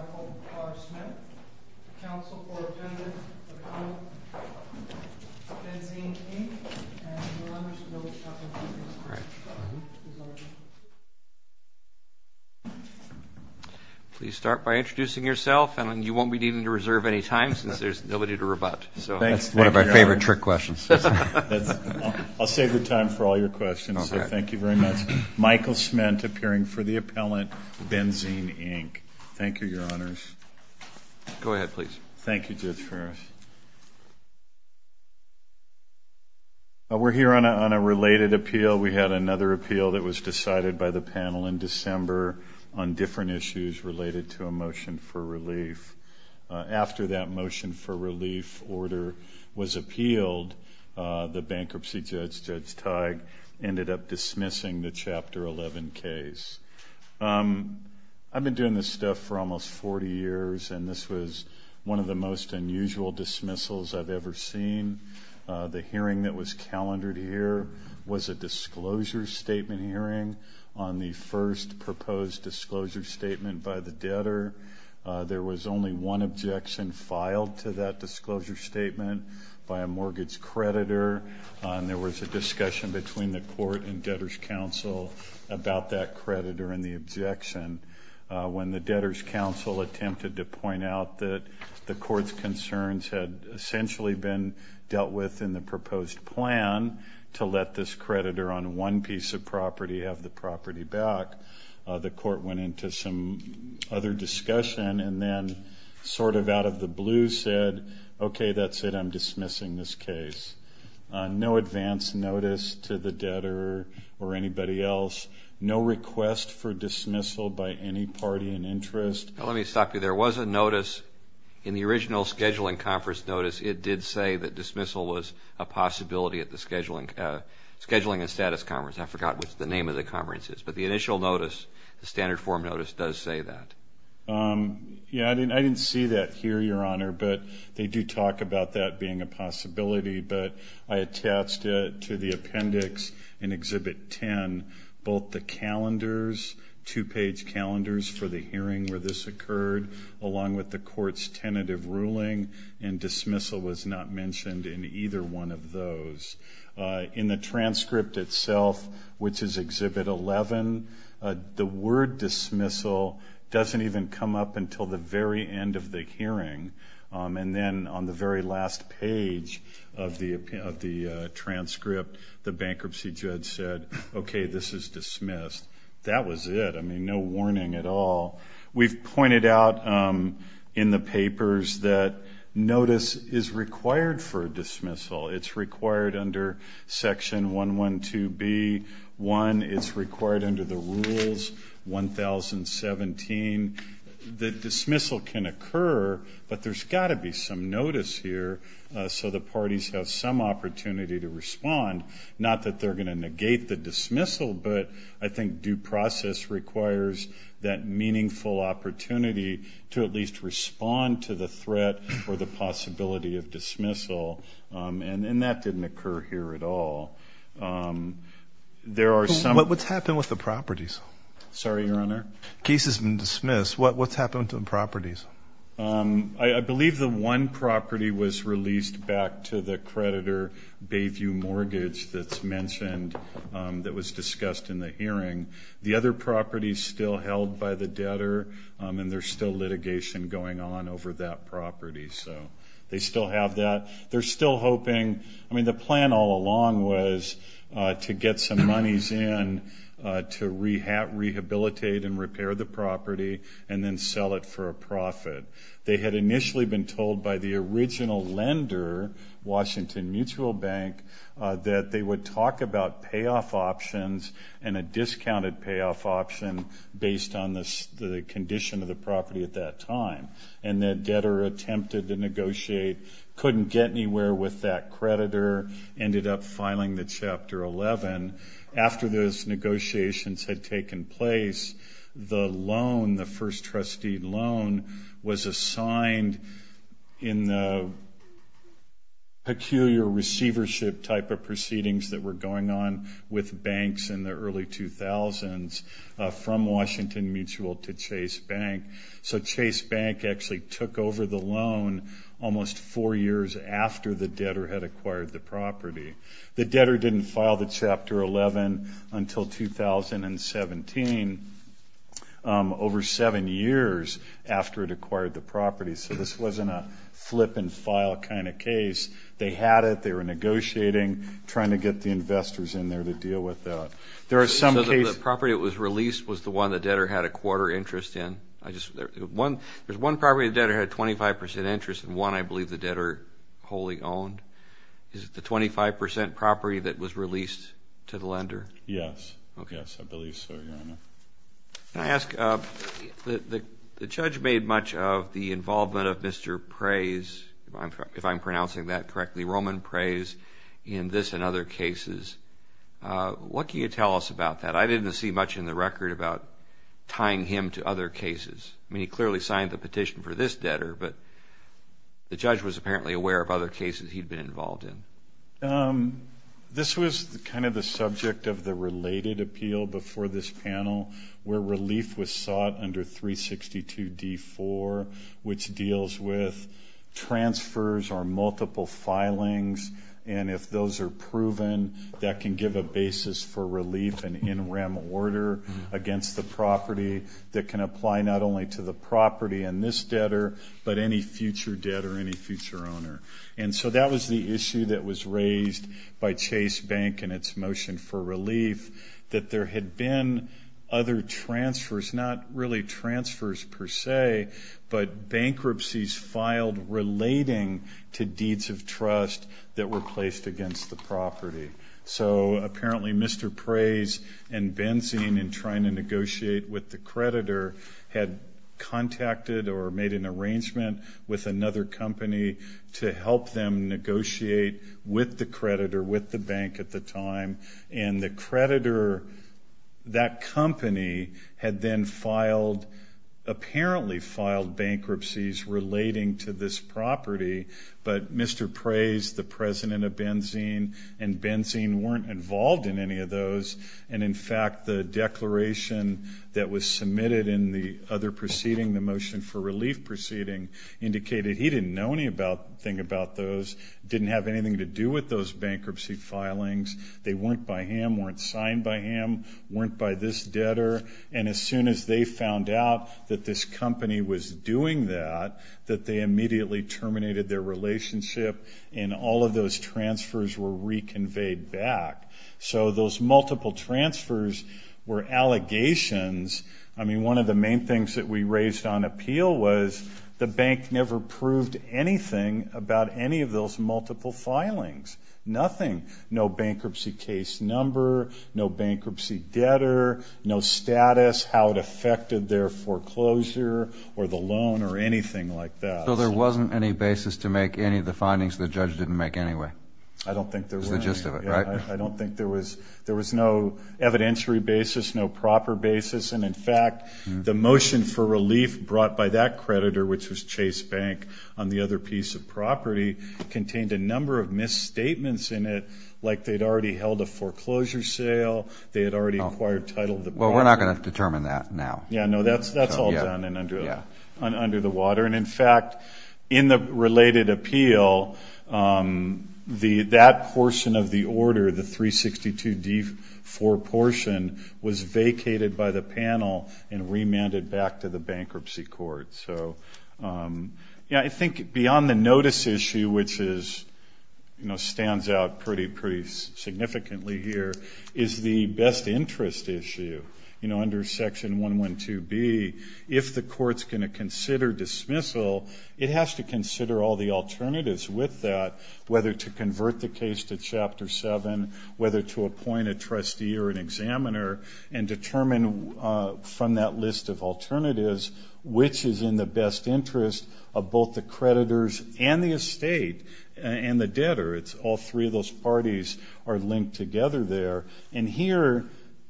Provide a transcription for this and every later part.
Michael R. Smith, Counsel for Attendants for the Council of BENZEEN INC., and your Honors to the Board of Trustees. Please start by introducing yourself, and you won't be needing to reserve any time since there's nobody to rebut. Thanks. One of our favorite trick questions. I'll save the time for all your questions, so thank you very much. Michael Smith, appearing for the appellant, BENZEEN INC. Thank you, your Honors. Go ahead, please. Thank you, Judge Ferris. We're here on a related appeal. We had another appeal that was decided by the panel in December on different issues related to a motion for relief. After that motion for relief order was appealed, the bankruptcy judge, Judge Teig, ended up dismissing the Chapter 11 case. I've been doing this stuff for almost 40 years, and this was one of the most unusual dismissals I've ever seen. The hearing that was calendared here was a disclosure statement hearing on the first proposed disclosure statement by the debtor. There was only one objection filed to that disclosure statement by a mortgage creditor, and there was a discussion between the court and debtor's counsel about that creditor and the objection. When the debtor's counsel attempted to point out that the court's concerns had essentially been dealt with in the proposed plan to let this creditor on one piece of property have the property back, the court went into some other discussion and then sort of out of the blue said, okay, that's it. I'm dismissing this case. No advance notice to the debtor or anybody else. No request for dismissal by any party in interest. Let me stop you there. There was a notice in the original scheduling conference notice. It did say that dismissal was a possibility at the scheduling and status conference. I forgot what the name of the conference is, but the initial notice, the standard form notice, does say that. Yeah, I didn't see that here, Your Honor, but they do talk about that being a possibility, but I attached it to the appendix in Exhibit 10. Both the calendars, two-page calendars for the hearing where this occurred, along with the court's tentative ruling and dismissal was not mentioned in either one of those. In the transcript itself, which is Exhibit 11, the word dismissal doesn't even come up until the very end of the hearing. And then on the very last page of the transcript, the bankruptcy judge said, okay, this is dismissed. That was it. I mean, no warning at all. We've pointed out in the papers that notice is required for dismissal. It's required under Section 112B-1. It's required under the Rules 1017. The dismissal can occur, but there's got to be some notice here so the parties have some opportunity to respond, not that they're going to negate the dismissal, but I think due process requires that meaningful opportunity to at least respond to the threat or the possibility of dismissal, and that didn't occur here at all. What's happened with the properties? Sorry, Your Honor? The case has been dismissed. What's happened with the properties? I believe the one property was released back to the creditor, Bayview Mortgage, that was discussed in the hearing. The other property is still held by the debtor, and there's still litigation going on over that property, so they still have that. They're still hoping. I mean, the plan all along was to get some monies in to rehabilitate and repair the property and then sell it for a profit. They had initially been told by the original lender, Washington Mutual Bank, that they would talk about payoff options and a discounted payoff option based on the condition of the property at that time, and that debtor attempted to negotiate, couldn't get anywhere with that creditor, ended up filing the Chapter 11. After those negotiations had taken place, the loan, the first trustee loan, was assigned in the peculiar receivership type of proceedings that were going on with banks in the early 2000s from Washington Mutual to Chase Bank. So Chase Bank actually took over the loan almost four years after the debtor had acquired the property. The debtor didn't file the Chapter 11 until 2017, over seven years after it acquired the property. So this wasn't a flip-and-file kind of case. They had it. They were negotiating, trying to get the investors in there to deal with that. The property that was released was the one the debtor had a quarter interest in. There's one property the debtor had 25% interest in, one I believe the debtor wholly owned. Is it the 25% property that was released to the lender? Yes. Okay. Yes, I believe so, Your Honor. Can I ask, the judge made much of the involvement of Mr. Preys, if I'm pronouncing that correctly, Roman Preys, in this and other cases. What can you tell us about that? I didn't see much in the record about tying him to other cases. I mean, he clearly signed the petition for this debtor, but the judge was apparently aware of other cases he'd been involved in. This was kind of the subject of the related appeal before this panel, where relief was sought under 362 D-4, which deals with transfers or multiple filings. And if those are proven, that can give a basis for relief and in rem order against the property that can apply not only to the property and this debtor, but any future debtor or any future owner. And so that was the issue that was raised by Chase Bank in its motion for relief, that there had been other transfers, not really transfers per se, but bankruptcies filed relating to deeds of trust that were placed against the property. So apparently Mr. Preys and Benzene, in trying to negotiate with the creditor, had contacted or made an arrangement with another company to help them negotiate with the creditor, with the bank at the time. And the creditor, that company, had then filed, apparently filed bankruptcies relating to this property. But Mr. Preys, the president of Benzene, and Benzene weren't involved in any of those. And, in fact, the declaration that was submitted in the other proceeding, the motion for relief proceeding, indicated he didn't know anything about those, didn't have anything to do with those bankruptcy filings. They weren't by him, weren't signed by him, weren't by this debtor. And as soon as they found out that this company was doing that, that they immediately terminated their relationship and all of those transfers were reconveyed back. So those multiple transfers were allegations. I mean, one of the main things that we raised on appeal was the bank never proved anything about any of those multiple filings, nothing. No bankruptcy case number, no bankruptcy debtor, no status, how it affected their foreclosure or the loan or anything like that. So there wasn't any basis to make any of the findings the judge didn't make anyway? I don't think there was. That was the gist of it, right? I don't think there was. There was no evidentiary basis, no proper basis. And, in fact, the motion for relief brought by that creditor, which was Chase Bank on the other piece of property, contained a number of misstatements in it, like they had already held a foreclosure sale, they had already acquired title of the property. Well, we're not going to determine that now. Yeah, no, that's all done and under the water. And, in fact, in the related appeal, that portion of the order, the 362D4 portion, was vacated by the panel and remanded back to the bankruptcy court. So, you know, I think beyond the notice issue, which stands out pretty significantly here, is the best interest issue. You know, under Section 112B, if the court's going to consider dismissal, it has to consider all the alternatives with that, whether to convert the case to Chapter 7, whether to appoint a trustee or an examiner, and determine from that list of alternatives which is in the best interest of both the creditors and the estate and the debtor. It's all three of those parties are linked together there. And here,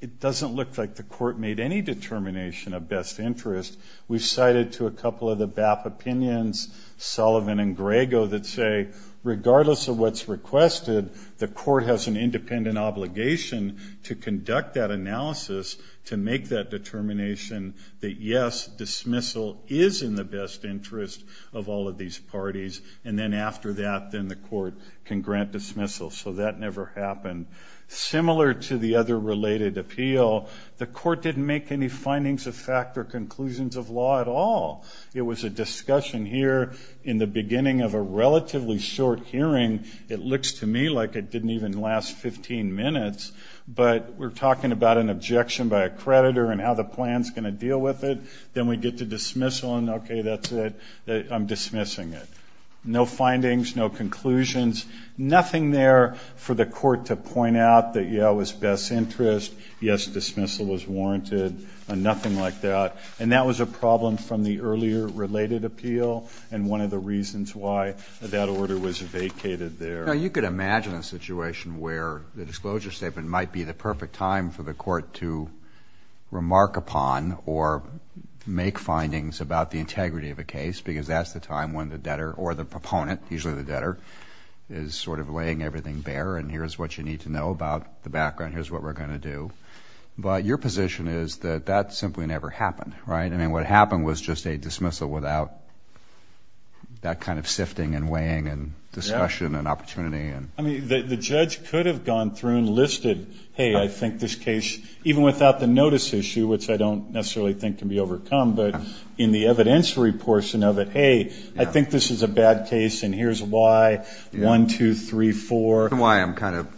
it doesn't look like the court made any determination of best interest. We've cited to a couple of the BAP opinions, Sullivan and Grego, that say, regardless of what's requested, the court has an independent obligation to conduct that analysis to make that determination that, yes, dismissal is in the best interest of all of these parties, and then after that, then the court can grant dismissal. So that never happened. Similar to the other related appeal, the court didn't make any findings of fact or conclusions of law at all. It was a discussion here in the beginning of a relatively short hearing. It looks to me like it didn't even last 15 minutes, but we're talking about an objection by a creditor and how the plan's going to deal with it. Then we get to dismissal, and, okay, that's it. I'm dismissing it. No findings. No conclusions. Nothing there for the court to point out that, yeah, it was best interest, yes, dismissal was warranted, nothing like that. And that was a problem from the earlier related appeal and one of the reasons why that order was vacated there. Now, you could imagine a situation where the disclosure statement might be the perfect time for the court to remark upon or make findings about the integrity of a case, because that's the time when the debtor or the proponent, usually the debtor, is sort of laying everything bare and here's what you need to know about the background, here's what we're going to do. But your position is that that simply never happened, right? I mean, what happened was just a dismissal without that kind of sifting and weighing and discussion and opportunity. I mean, the judge could have gone through and listed, hey, I think this case, even without the notice issue, which I don't necessarily think can be overcome, but in the evidentiary portion of it, hey, I think this is a bad case and here's why, one, two, three, four. The reason why I'm kind of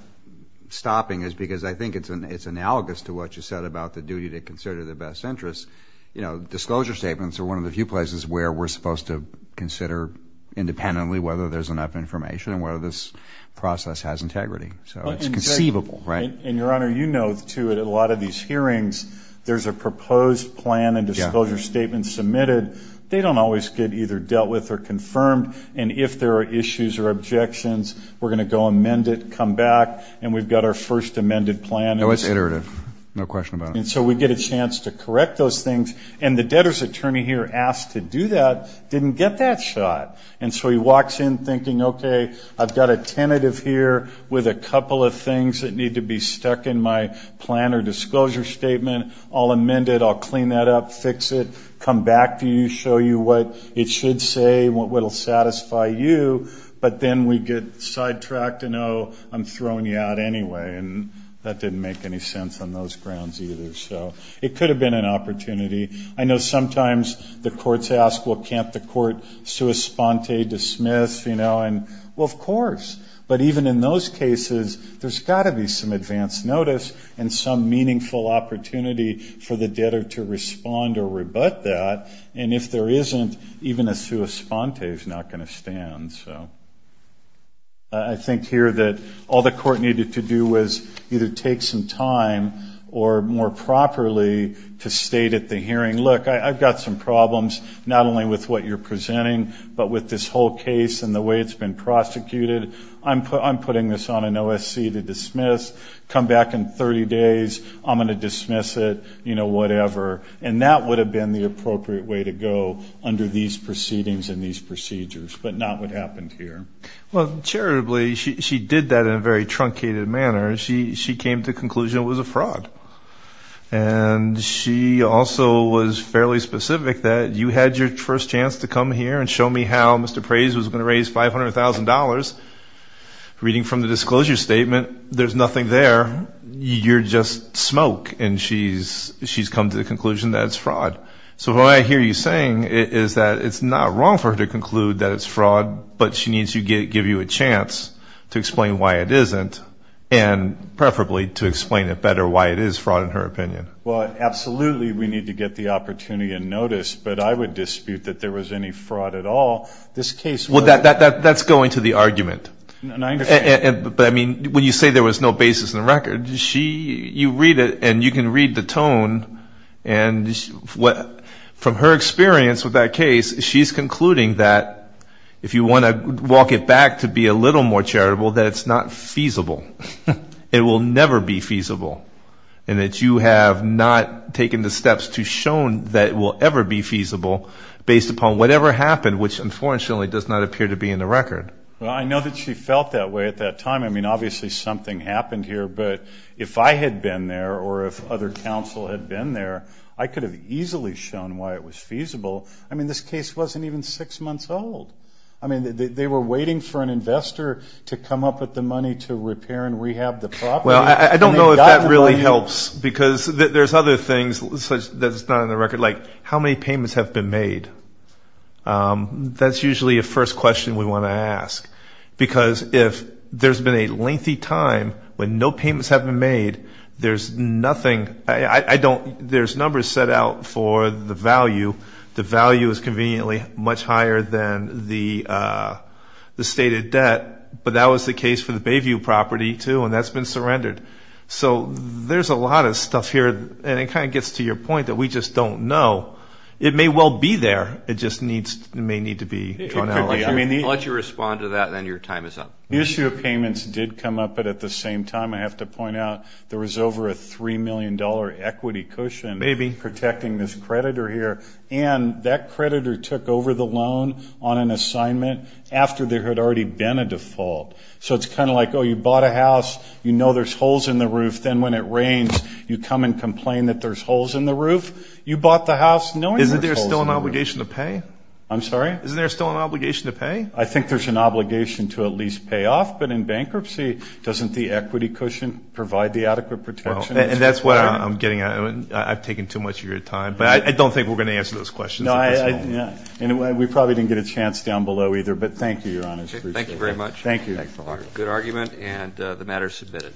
stopping is because I think it's analogous to what you said about the duty to consider the best interest. You know, disclosure statements are one of the few places where we're supposed to consider independently whether there's enough information and whether this process has integrity. So it's conceivable, right? And, Your Honor, you know, too, at a lot of these hearings, there's a proposed plan and disclosure statement submitted. They don't always get either dealt with or confirmed. And if there are issues or objections, we're going to go amend it, come back, and we've got our first amended plan. No, it's iterative. No question about it. And so we get a chance to correct those things. And the debtor's attorney here asked to do that didn't get that shot. And so he walks in thinking, okay, I've got a tentative here with a couple of things that need to be stuck in my plan or disclosure statement. I'll amend it. I'll clean that up, fix it, come back to you, show you what it should say, what will satisfy you. But then we get sidetracked and, oh, I'm throwing you out anyway. And that didn't make any sense on those grounds either. So it could have been an opportunity. I know sometimes the courts ask, well, can't the court sua sponte dismiss? You know, and, well, of course. But even in those cases, there's got to be some advance notice and some meaningful opportunity for the debtor to respond or rebut that. And if there isn't, even a sua sponte is not going to stand. I think here that all the court needed to do was either take some time or more properly to state at the hearing, look, I've got some problems, not only with what you're presenting, but with this whole case and the way it's been prosecuted. I'm putting this on an OSC to dismiss. Come back in 30 days, I'm going to dismiss it, you know, whatever. And that would have been the appropriate way to go under these proceedings and these procedures, but not what happened here. Well, charitably, she did that in a very truncated manner. She came to the conclusion it was a fraud. And she also was fairly specific that you had your first chance to come here and show me how Mr. Praise was going to raise $500,000. Reading from the disclosure statement, there's nothing there. You're just smoke. And she's come to the conclusion that it's fraud. So what I hear you saying is that it's not wrong for her to conclude that it's fraud, but she needs to give you a chance to explain why it isn't and preferably to explain it better why it is fraud in her opinion. Well, absolutely we need to get the opportunity and notice, but I would dispute that there was any fraud at all. Well, that's going to the argument. But, I mean, when you say there was no basis in the record, you read it and you can read the tone. And from her experience with that case, she's concluding that if you want to walk it back to be a little more charitable, that it's not feasible. It will never be feasible. And that you have not taken the steps to show that it will ever be feasible based upon whatever happened, which unfortunately does not appear to be in the record. Well, I know that she felt that way at that time. I mean, obviously something happened here, but if I had been there or if other counsel had been there, I could have easily shown why it was feasible. I mean, this case wasn't even six months old. I mean, they were waiting for an investor to come up with the money to repair and rehab the property. Well, I don't know if that really helps, because there's other things that's not in the record, like how many payments have been made. That's usually a first question we want to ask, because if there's been a lengthy time when no payments have been made, there's numbers set out for the value. The value is conveniently much higher than the stated debt, but that was the case for the Bayview property, too, and that's been surrendered. So there's a lot of stuff here, and it kind of gets to your point that we just don't know. It may well be there. It just may need to be drawn out. I'll let you respond to that, and then your time is up. The issue of payments did come up, but at the same time I have to point out there was over a $3 million equity cushion protecting this creditor here, and that creditor took over the loan on an assignment after there had already been a default. So it's kind of like, oh, you bought a house. You know there's holes in the roof. Then when it rains, you come and complain that there's holes in the roof. You bought the house knowing there's holes in the roof. Isn't there still an obligation to pay? I'm sorry? Isn't there still an obligation to pay? I think there's an obligation to at least pay off, but in bankruptcy doesn't the equity cushion provide the adequate protection? And that's what I'm getting at. I've taken too much of your time, but I don't think we're going to answer those questions. We probably didn't get a chance down below either, but thank you, Your Honor. Thank you very much. Thank you. Good argument, and the matter is submitted.